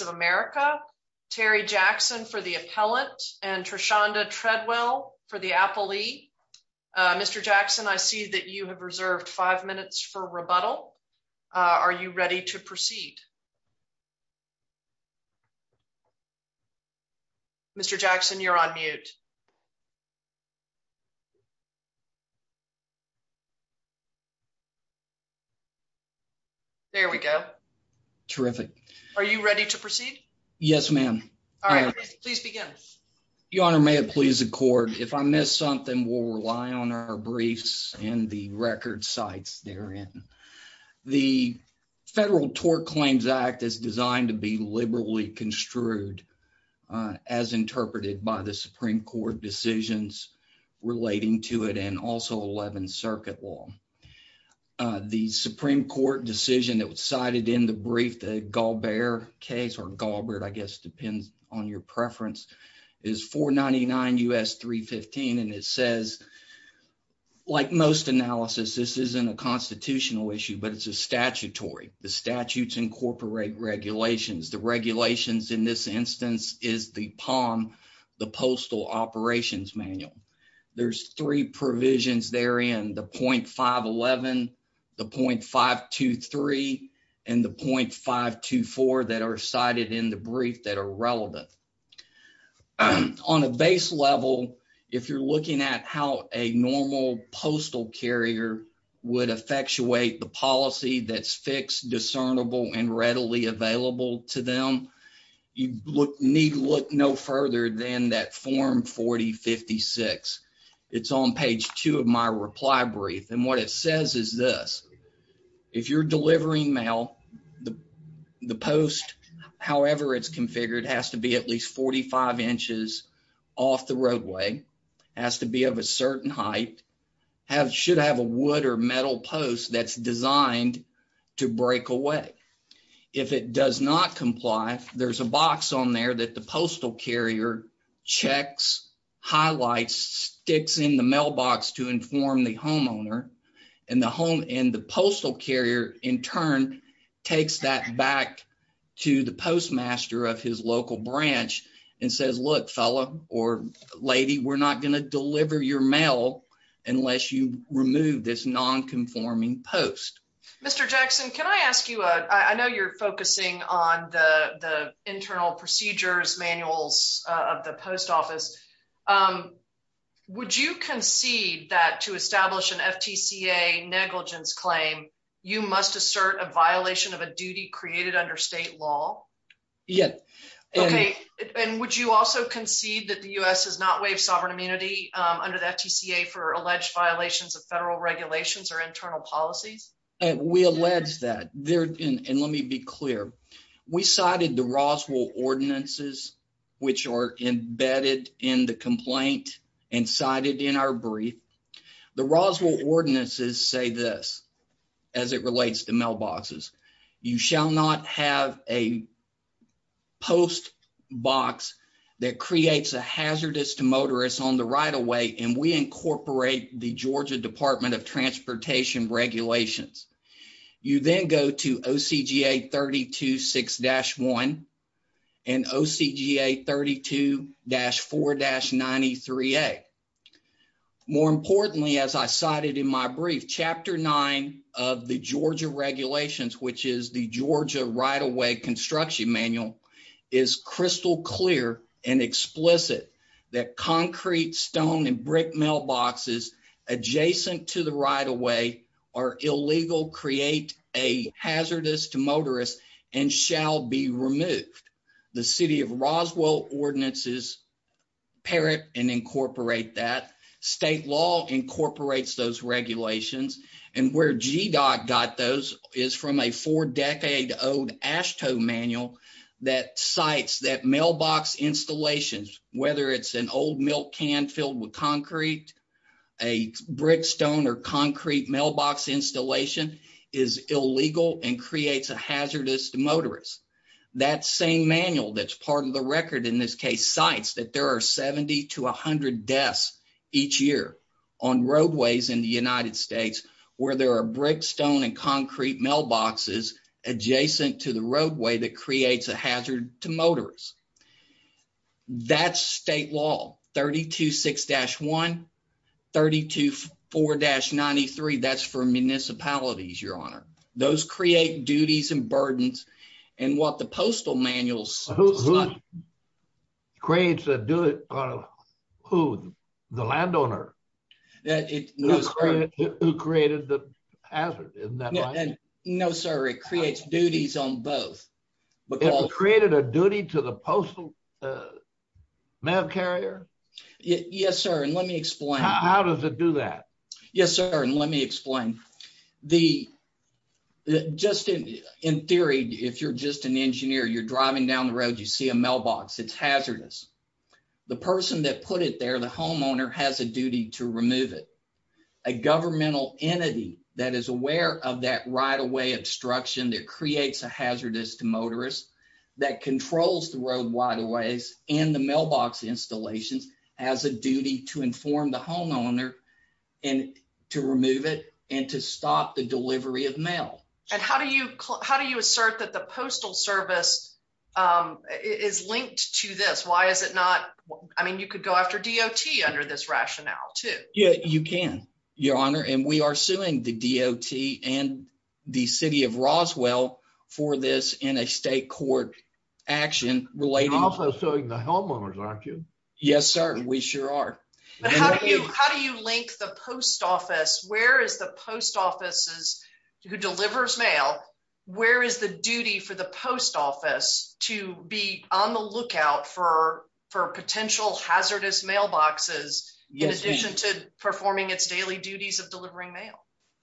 of America, Terry Jackson for the appellant, and Trashonda Treadwell for the appellee. Mr. Jackson, I see that you have reserved five minutes for rebuttal. Are you ready to proceed? Mr. Jackson, you're on mute. There we go. Terrific. Are you ready to proceed? Yes, ma'am. All right, please begin. Your Honor, may it please the court, if I miss something, we'll rely on our briefs and the record sites therein. The Federal Tort Claims Act is designed to be liberally construed as interpreted by the Supreme Court decisions relating to it and also 11th Circuit law. The Supreme Court decision that was cited in the brief, the Galbert case, or Galbert, I guess depends on your preference, is 499 U.S. 315. And it says, like most analysis, this isn't a constitutional issue, but it's a statutory. The statutes incorporate regulations. The regulations in this instance is the POM, the Postal Operations Manual. There's three provisions therein, the .511, the .523, and the .524 that are cited in the brief that are relevant. On a base level, if you're looking at how a normal postal carrier would effectuate the policy that's fixed, discernible, and readily available to them, you need look no further than that form 4056. It's on page two of my reply brief. And what it says is this. If you're delivering mail, the post, however it's configured, has to be at least 45 inches off the roadway, has to be of a certain height, should have a wood or metal post that's designed to break away. If it does not comply, there's a box on there that the postal carrier checks, highlights, sticks in the mailbox to inform the homeowner. And the postal carrier, in turn, takes that back to the postmaster of his local branch and says, look, fella or lady, we're not going to deliver your mail unless you remove this nonconforming post. Mr. Jackson, can I ask you, I know you're focusing on the internal procedures manuals of the post office. Would you concede that to establish an FTCA negligence claim, you must assert a violation of a duty created under state law? Yes. Okay. And would you also concede that the US has not waived sovereign immunity under the FTCA for alleged violations of federal regulations or internal policies? We allege that. And let me be clear. We cited the Roswell ordinances, which are embedded in the complaint and cited in our brief. The Roswell ordinances say this as it relates to mailboxes. You shall not have a post box that creates a hazardous to motorists on the right of way, and we incorporate the Georgia Department of Transportation regulations. You then go to OCGA 32-6-1 and OCGA 32-4-93A. More importantly, as I cited in my brief, Chapter 9 of the Georgia regulations, which is the Georgia right of way construction manual, is crystal clear and explicit that concrete, stone and brick mailboxes adjacent to the right of way are illegal, create a hazardous to motorists and shall be removed. The city of Roswell ordinances parrot and incorporate that. State law incorporates those regulations. And where GDOT got those is from a four decade old AASHTO manual that cites that mailbox installations, whether it's an old milk can filled with concrete, a brick, stone or concrete mailbox installation is illegal and creates a hazardous to motorists. That same manual that's part of the record in this case cites that there are 70 to 100 deaths each year on roadways in the United States where there are brick, stone and concrete mailboxes adjacent to the roadway that creates a hazard to motorists. That's state law 32-6-1, 32-4-93, that's for municipalities, Your Honor. Those create duties and burdens and what the postal manuals. Who creates a duty? Who? The landowner? Who created the hazard? Isn't that right? No, sir. It creates duties on both. It created a duty to the postal mail carrier? Yes, sir. And let me explain. How does it do that? Yes, sir. And let me explain. Just in theory, if you're just an engineer, you're driving down the road, you see a mailbox, it's hazardous. The person that put it there, the homeowner has a duty to remove it. A governmental entity that is aware of that right-of-way obstruction that creates a hazardous to motorists that controls the road wide aways and the mailbox installations has a duty to inform the homeowner and to remove it and to stop the delivery of mail. And how do you how do you assert that the Postal Service is linked to this? Why is it not? I mean, you could go after DOT under this rationale, too. Yeah, you can, Your Honor. And we are suing the DOT and the city of Roswell for this in a state court action related. You're also suing the homeowners, aren't you? Yes, sir. We sure are. How do you link the post office? Where is the post offices who delivers mail? Where is the duty for the post office to be on the lookout for for potential hazardous mailboxes in addition to performing its daily duties of delivering mail?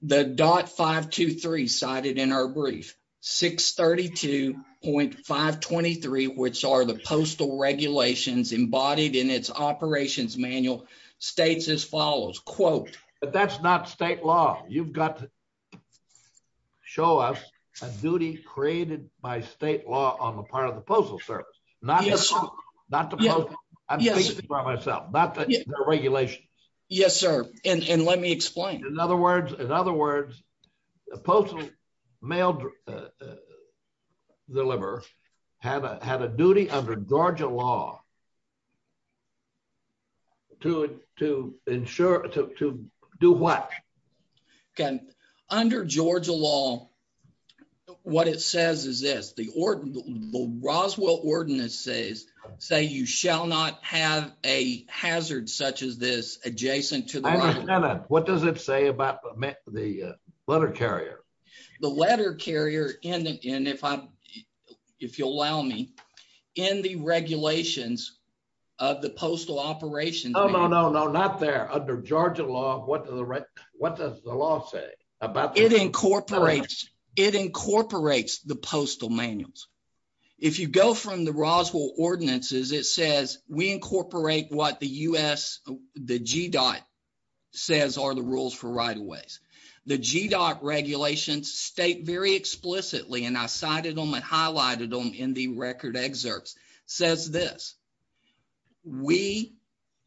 The DOT 523 cited in our brief, 632.523, which are the postal regulations embodied in its operations manual states as follows, quote, But that's not state law. You've got to show us a duty created by state law on the part of the Postal Service. Not the Postal Service. I'm speaking for myself. Not the regulations. Yes, sir. And let me explain. In other words, the postal mail deliverer had a duty under Georgia law to do what? Under Georgia law, what it says is this. The Roswell Ordinances say you shall not have a hazard such as this adjacent to the. Now, what does it say about the letter carrier? The letter carrier. And if I'm if you'll allow me in the regulations of the postal operation. Oh, no, no, no. Not there. Under Georgia law. What are the what does the law say about it? It incorporates the postal manuals. If you go from the Roswell Ordinances, it says we incorporate what the U.S. The GDOT says are the rules for right of ways. The GDOT regulations state very explicitly. And I cited them and highlighted them in the record. Excerpts says this. We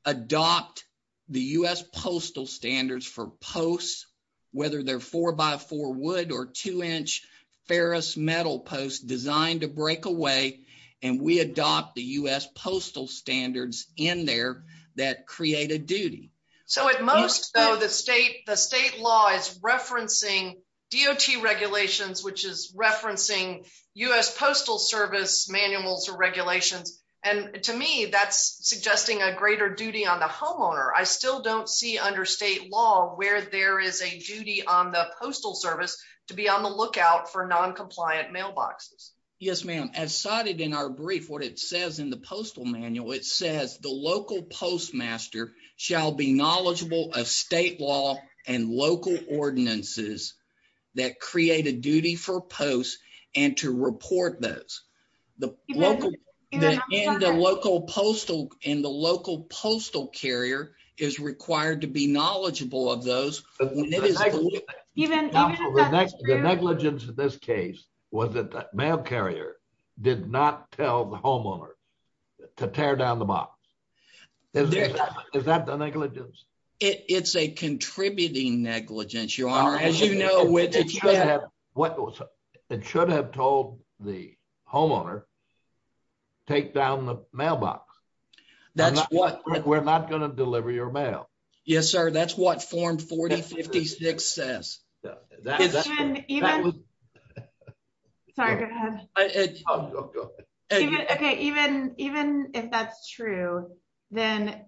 adopt the U.S. postal standards for posts, whether they're four by four wood or two inch ferrous metal posts designed to break away. And we adopt the U.S. postal standards in there that create a duty. So at most, though, the state the state law is referencing DOT regulations, which is referencing U.S. postal service manuals or regulations. And to me, that's suggesting a greater duty on the homeowner. I still don't see under state law where there is a duty on the postal service to be on the lookout for noncompliant mailboxes. Yes, ma'am. As cited in our brief, what it says in the postal manual, it says the local postmaster shall be knowledgeable of state law and local ordinances that create a duty for posts and to report those. The local and the local postal and the local postal carrier is required to be knowledgeable of those. Even the negligence of this case was that the mail carrier did not tell the homeowner to tear down the box. Is that the negligence? It's a contributing negligence, your honor. As you know, which is what it should have told the homeowner. Take down the mailbox. That's what we're not going to deliver your mail. Yes, sir. That's what form 40, 50, 60 says. Sorry, go ahead. OK, even even if that's true, then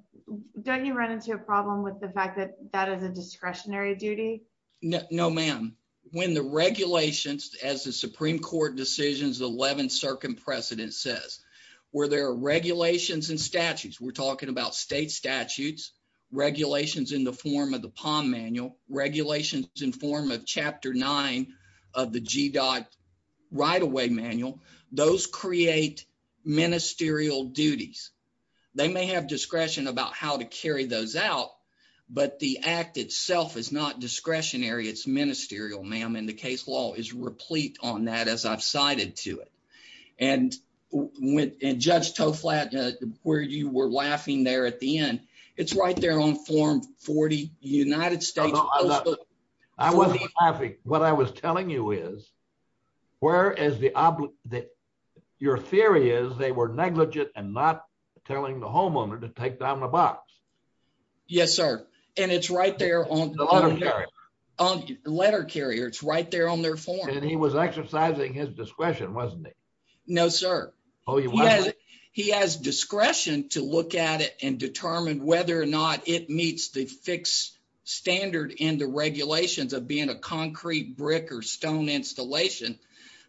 don't you run into a problem with the fact that that is a discretionary duty? No, ma'am. When the regulations, as the Supreme Court decisions, the 11th Circum precedent says where there are regulations and statutes, we're talking about state statutes, regulations in the form of the palm manual regulations in form of Chapter nine of the GDOT right away manual. Those create ministerial duties. They may have discretion about how to carry those out, but the act itself is not discretionary. It's ministerial, ma'am. And the case law is replete on that, as I've cited to it. And when Judge Toflat, where you were laughing there at the end, it's right there on form 40, United States. I wasn't laughing. What I was telling you is where is the that your theory is they were negligent and not telling the homeowner to take down the box. Yes, sir. And it's right there on the letter carrier. It's right there on their form. And he was exercising his discretion, wasn't he? No, sir. Oh, yeah. He has discretion to look at it and determine whether or not it meets the fixed standard in the regulations of being a concrete brick or stone installation.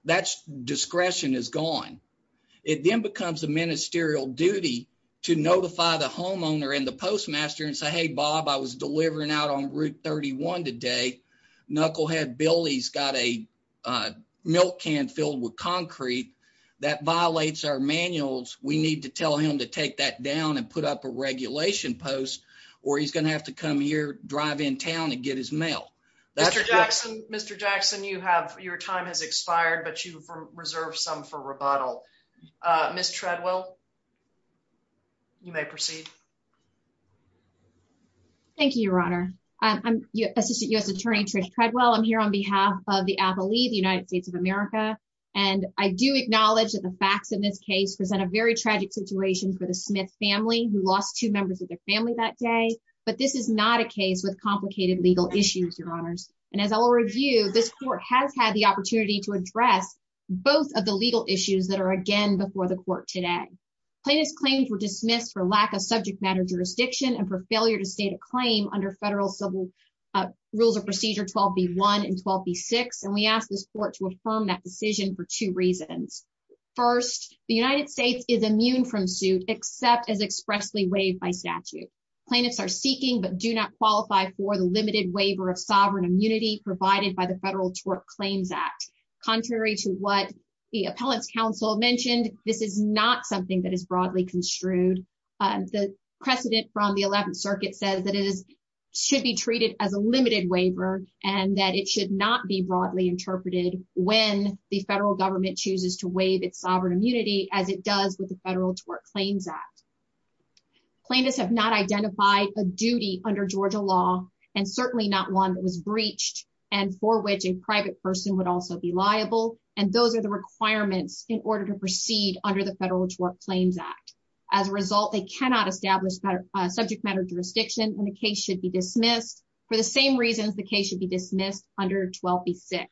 That's discretion is gone. It then becomes a ministerial duty to notify the homeowner and the postmaster and say, hey, Bob, I was delivering out on Route 31 today. Knucklehead Billy's got a milk can filled with concrete that violates our manuals. We need to tell him to take that down and put up a regulation post or he's going to have to come here, drive in town and get his mail. Mr. Jackson, Mr. Jackson, you have your time has expired, but you reserve some for rebuttal. Miss Treadwell. You may proceed. Thank you, Your Honor. I'm Assistant U.S. Attorney Trish Treadwell. I'm here on behalf of the Appalachian United States of America. And I do acknowledge that the facts in this case present a very tragic situation for the Smith family who lost two members of their family that day. But this is not a case with complicated legal issues, Your Honors. And as I will review, this court has had the opportunity to address both of the legal issues that are again before the court today. Plaintiff's claims were dismissed for lack of subject matter jurisdiction and for failure to state a claim under federal civil rules of procedure 12B1 and 12B6. And we ask this court to affirm that decision for two reasons. First, the United States is immune from suit, except as expressly waived by statute. Plaintiffs are seeking but do not qualify for the limited waiver of sovereign immunity provided by the Federal Tort Claims Act. Contrary to what the appellant's counsel mentioned, this is not something that is broadly construed. The precedent from the 11th Circuit says that it should be treated as a limited waiver and that it should not be broadly interpreted when the federal government chooses to waive its sovereign immunity as it does with the Federal Tort Claims Act. Plaintiffs have not identified a duty under Georgia law and certainly not one that was breached and for which a private person would also be liable. And those are the requirements in order to proceed under the Federal Tort Claims Act. As a result, they cannot establish better subject matter jurisdiction and the case should be dismissed for the same reasons the case should be dismissed under 12B6.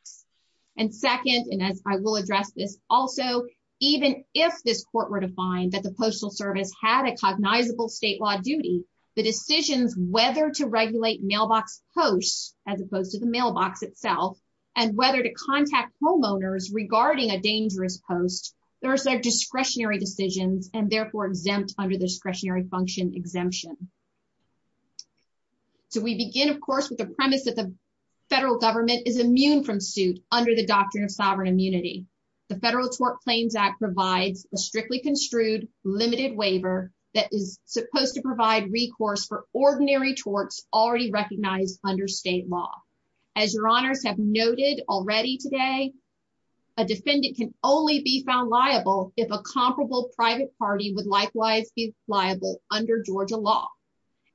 And second, and as I will address this also, even if this court were to find that the Postal Service had a cognizable state law duty, the decisions whether to regulate mailbox posts, as opposed to the mailbox itself, and whether to contact homeowners regarding a dangerous post, those are discretionary decisions and therefore exempt under the discretionary function exemption. So we begin, of course, with the premise that the federal government is immune from suit under the doctrine of sovereign immunity. The Federal Tort Claims Act provides a strictly construed limited waiver that is supposed to provide recourse for ordinary torts already recognized under state law. As your honors have noted already today, a defendant can only be found liable if a comparable private party would likewise be liable under Georgia law.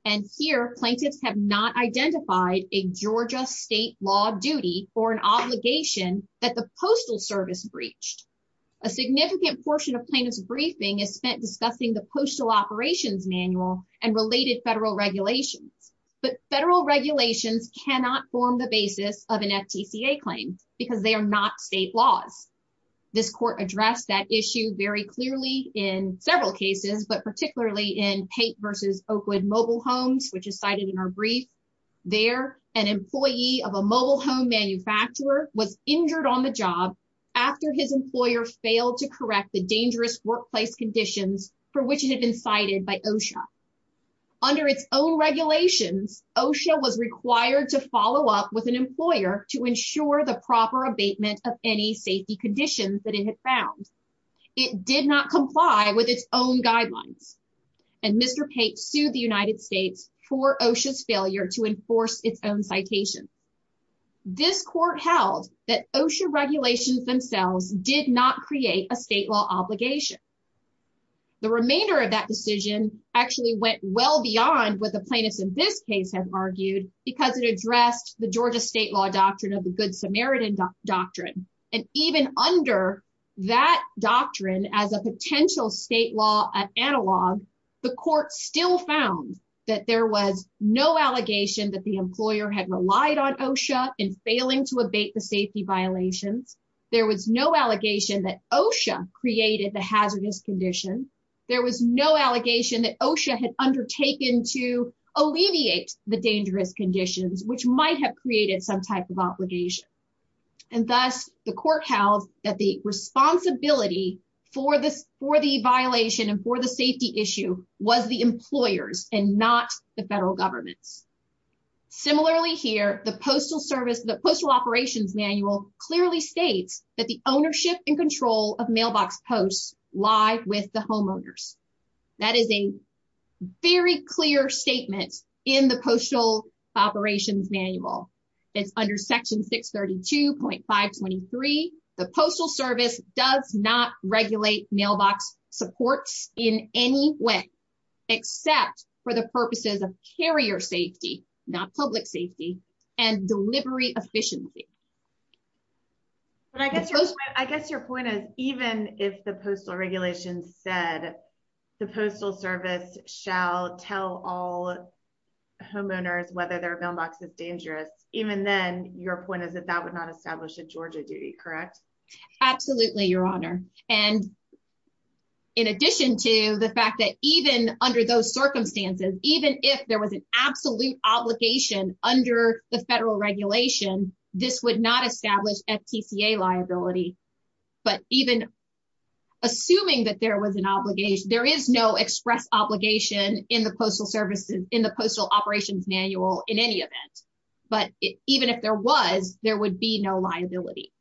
And here, plaintiffs have not identified a Georgia state law duty or an obligation that the Postal Service breached. A significant portion of plaintiff's briefing is spent discussing the Postal Operations Manual and related federal regulations. But federal regulations cannot form the basis of an FTCA claim because they are not state laws. This court addressed that issue very clearly in several cases, but particularly in Pate v. Oakwood Mobile Homes, which is cited in our brief. There, an employee of a mobile home manufacturer was injured on the job after his employer failed to correct the dangerous workplace conditions for which it had been cited by OSHA. Under its own regulations, OSHA was required to follow up with an employer to ensure the proper abatement of any safety conditions that it had found. It did not comply with its own guidelines. And Mr. Pate sued the United States for OSHA's failure to enforce its own citation. This court held that OSHA regulations themselves did not create a state law obligation. The remainder of that decision actually went well beyond what the plaintiffs in this case have argued because it addressed the Georgia state law doctrine of the Good Samaritan Doctrine. And even under that doctrine as a potential state law analog, the court still found that there was no allegation that the employer had relied on OSHA in failing to abate the safety violations. There was no allegation that OSHA created the hazardous condition. There was no allegation that OSHA had undertaken to alleviate the dangerous conditions, which might have created some type of obligation. And thus, the court held that the responsibility for the violation and for the safety issue was the employers and not the federal governments. Similarly here, the Postal Operations Manual clearly states that the ownership and control of mailbox posts lie with the homeowners. That is a very clear statement in the Postal Operations Manual. It's under Section 632.523. The Postal Service does not regulate mailbox supports in any way except for the purposes of carrier safety, not public safety, and delivery efficiency. But I guess your point is, even if the postal regulations said the Postal Service shall tell all homeowners whether their mailbox is dangerous, even then, your point is that that would not establish a Georgia duty, correct? Absolutely, Your Honor. And in addition to the fact that even under those circumstances, even if there was an absolute obligation under the federal regulation, this would not establish FTCA liability. But even assuming that there was an obligation, there is no express obligation in the Postal Operations Manual in any event. But even if there was, there would be no liability.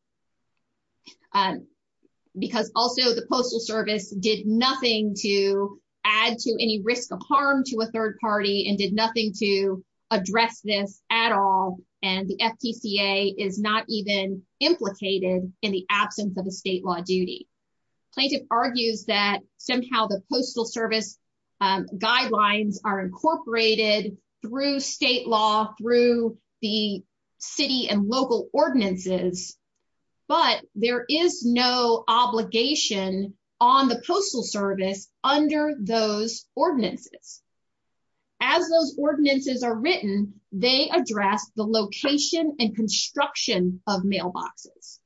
Because also the Postal Service did nothing to add to any risk of harm to a third party and did nothing to address this at all, and the FTCA is not even implicated in the absence of a state law duty. Plaintiff argues that somehow the Postal Service guidelines are incorporated through state law, through the city and local ordinances, but there is no obligation on the Postal Service under those ordinances. As those ordinances are written, they address the location and construction of mailboxes.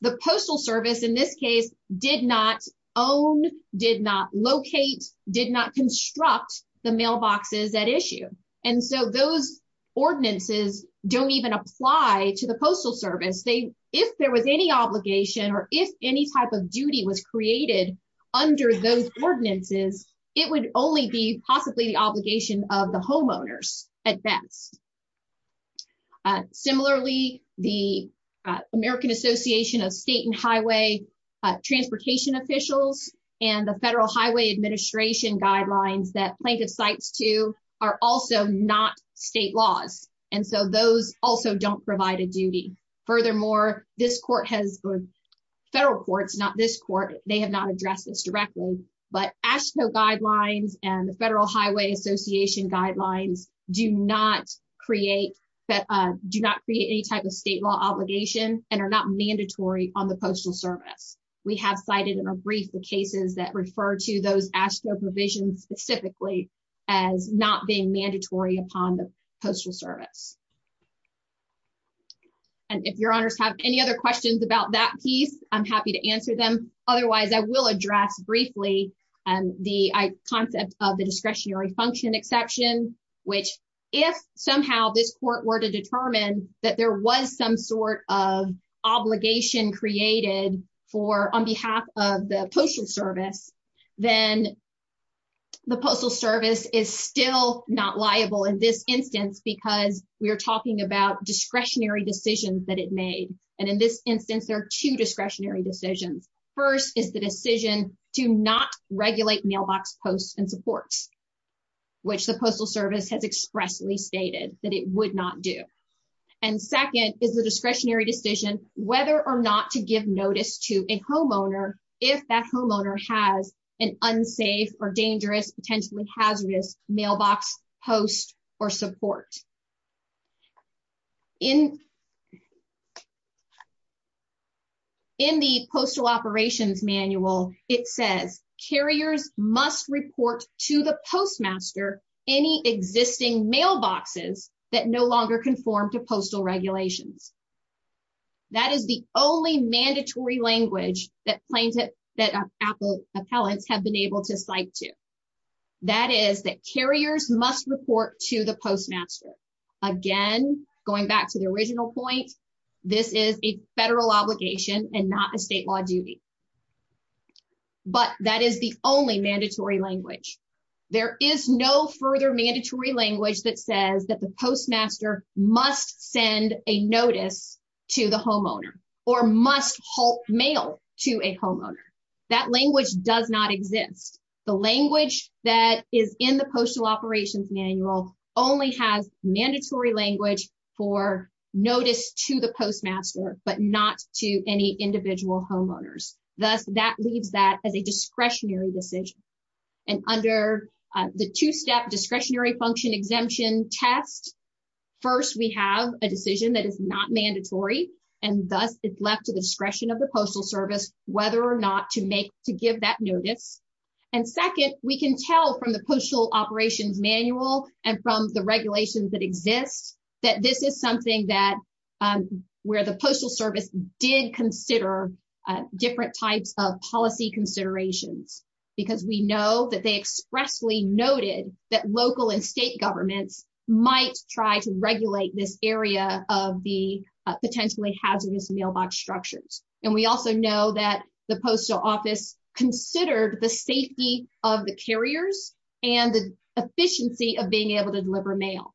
The Postal Service, in this case, did not own, did not locate, did not construct the mailboxes at issue. And so those ordinances don't even apply to the Postal Service. If there was any obligation or if any type of duty was created under those ordinances, it would only be possibly the obligation of the homeowners at best. Similarly, the American Association of State and Highway Transportation Officials and the Federal Highway Administration guidelines that plaintiff cites to are also not state laws. And so those also don't provide a duty. Furthermore, this court has, federal courts, not this court, they have not addressed this directly, but AASHTO guidelines and the Federal Highway Association guidelines do not create any type of state law obligation and are not mandatory on the Postal Service. We have cited in a brief the cases that refer to those AASHTO provisions specifically as not being mandatory upon the Postal Service. And if your honors have any other questions about that piece, I'm happy to answer them. Otherwise, I will address briefly the concept of the discretionary function exception, which if somehow this court were to determine that there was some sort of obligation created on behalf of the Postal Service, then the Postal Service is still not liable in this instance because we are talking about discretionary decisions that it made. And in this instance, there are two discretionary decisions. First is the decision to not regulate mailbox posts and supports, which the Postal Service has expressly stated that it would not do. And second is the discretionary decision whether or not to give notice to a homeowner if that homeowner has an unsafe or dangerous, potentially hazardous mailbox post or support. In the Postal Operations Manual, it says, carriers must report to the postmaster any existing mailboxes that no longer conform to postal regulations. That is the only mandatory language that plaintiff that Apple appellants have been able to cite to. That is that carriers must report to the postmaster. Again, going back to the original point, this is a federal obligation and not a state law duty. But that is the only mandatory language. There is no further mandatory language that says that the postmaster must send a notice to the homeowner or must help mail to a homeowner. That language does not exist. The language that is in the Postal Operations Manual only has mandatory language for notice to the postmaster, but not to any individual homeowners. Thus, that leaves that as a discretionary decision. And under the two-step discretionary function exemption test, first, we have a decision that is not mandatory, and thus it's left to the discretion of the Postal Service whether or not to give that notice. And second, we can tell from the Postal Operations Manual and from the regulations that exist that this is something where the Postal Service did consider different types of policy considerations. Because we know that they expressly noted that local and state governments might try to regulate this area of the potentially hazardous mailbox structures. And we also know that the Postal Office considered the safety of the carriers and the efficiency of being able to deliver mail.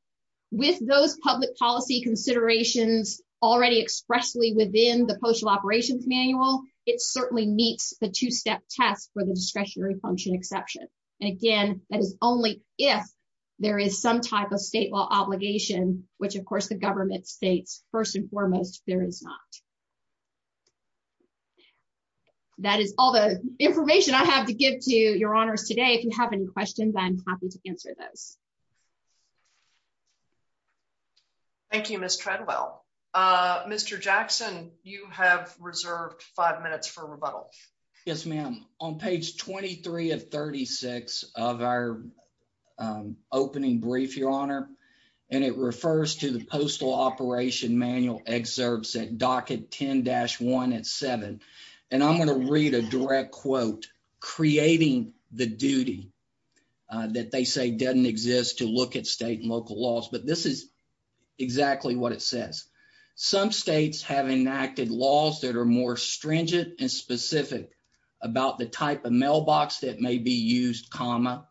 With those public policy considerations already expressly within the Postal Operations Manual, it certainly meets the two-step test for the discretionary function exception. And again, that is only if there is some type of state law obligation, which of course the government states, first and foremost, there is not. That is all the information I have to give to your honors today. If you have any questions, I'm happy to answer those. Thank you, Ms. Treadwell. Mr. Jackson, you have reserved five minutes for rebuttal. Yes, ma'am. On page 23 of 36 of our opening brief, your honor, and it refers to the Postal Operations Manual excerpts at docket 10-1 at 7. And I'm going to read a direct quote, creating the duty that they say doesn't exist to look at state and local laws. But this is exactly what it says. Some states have enacted laws that are more stringent and specific about the type of mailbox that may be used, comma,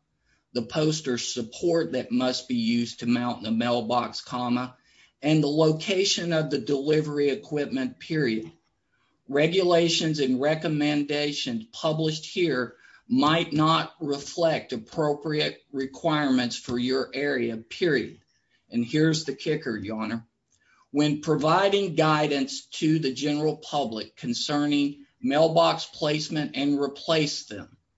the post or support that must be used to mount the mailbox, comma, and the location of the delivery equipment, period. Regulations and recommendations published here might not reflect appropriate requirements for your area, period. And here's the kicker, your honor. When providing guidance to the general public concerning mailbox placement and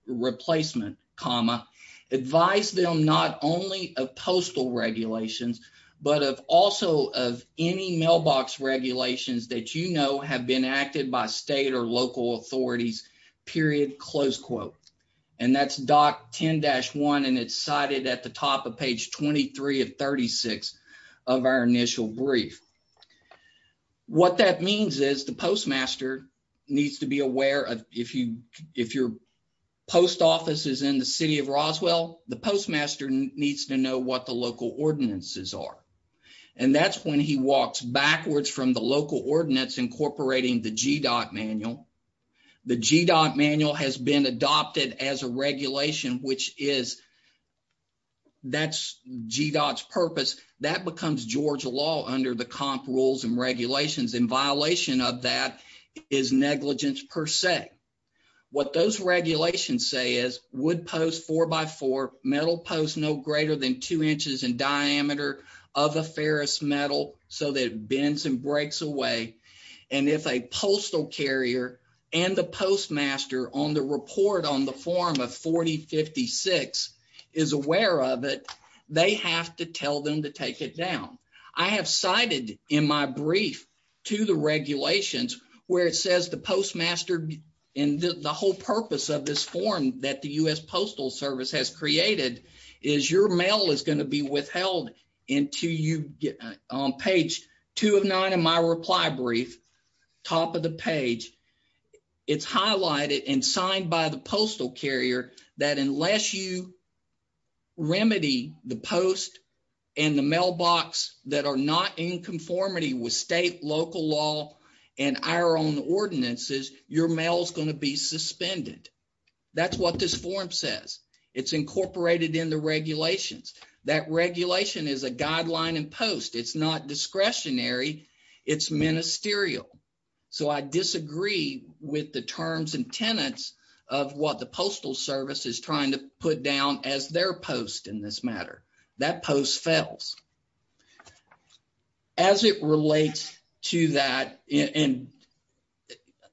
replacement, comma, advise them not only of postal regulations, but also of any mailbox regulations that you know have been acted by state or local authorities, period, close quote. And that's docket 10-1, and it's cited at the top of page 23 of 36 of our initial brief. What that means is the postmaster needs to be aware of if your post office is in the city of Roswell, the postmaster needs to know what the local ordinances are. And that's when he walks backwards from the local ordinance incorporating the GDOT manual. The GDOT manual has been adopted as a regulation, which is, that's GDOT's purpose. That becomes Georgia law under the comp rules and regulations, and violation of that is negligence per se. What those regulations say is wood post four by four, metal post no greater than two inches in diameter of a ferrous metal so that it bends and breaks away. And if a postal carrier and the postmaster on the report on the form of 4056 is aware of it, they have to tell them to take it down. I have cited in my brief to the regulations where it says the postmaster and the whole purpose of this form that the U.S. Postal Service has created is your mail is going to be withheld until you get on page two of nine in my reply brief, top of the page. It's highlighted and signed by the postal carrier that unless you remedy the post and the mailbox that are not in conformity with state, local law, and our own ordinances, your mail is going to be suspended. That's what this form says. It's incorporated in the regulations. That regulation is a guideline in post. It's not discretionary. It's ministerial. So I disagree with the terms and tenets of what the Postal Service is trying to put down as their post in this matter. That post fails. As it relates to that, and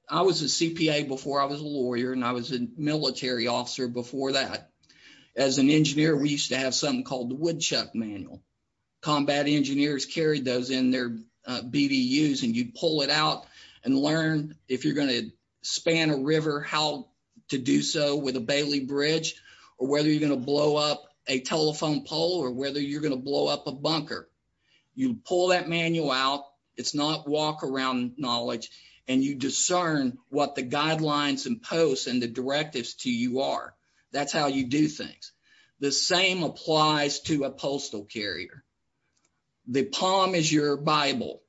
I was a CPA before I was a lawyer and I was a military officer before that. As an engineer, we used to have something called the woodchuck manual. Combat engineers carried those in their BDUs and you'd pull it out and learn if you're going to span a river how to do so with a Bailey bridge or whether you're going to blow up a telephone pole or whether you're going to blow up a bunker. You pull that manual out. It's not walk around knowledge and you discern what the guidelines and posts and the directives to you are. That's how you do things. The same applies to a postal carrier. The palm is your Bible.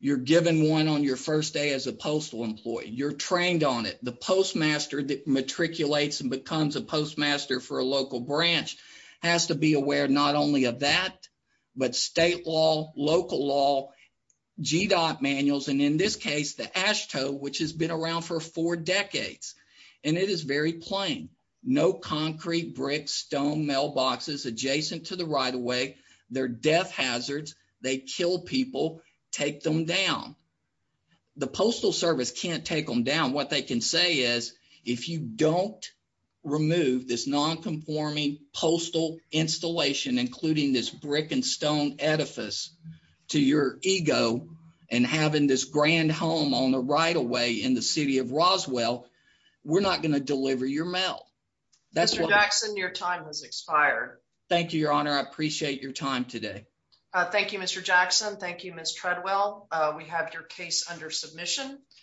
You're given one on your first day as a postal employee. You're trained on it. The postmaster that matriculates and becomes a postmaster for a local branch has to be aware not only of that, but state law, local law, GDOT manuals, and in this case, the AASHTO, which has been around for four decades. It is very plain. No concrete bricks, stone mailboxes adjacent to the right-of-way. They're death hazards. They kill people. Take them down. The Postal Service can't take them down. What they can say is, if you don't remove this nonconforming postal installation, including this brick and stone edifice to your ego and having this grand home on the right-of-way in the city of Roswell, we're not going to deliver your mail. Mr. Jackson, your time has expired. Thank you, Your Honor. I appreciate your time today. Thank you, Mr. Jackson. Thank you, Ms. Treadwell. We have your case under submission.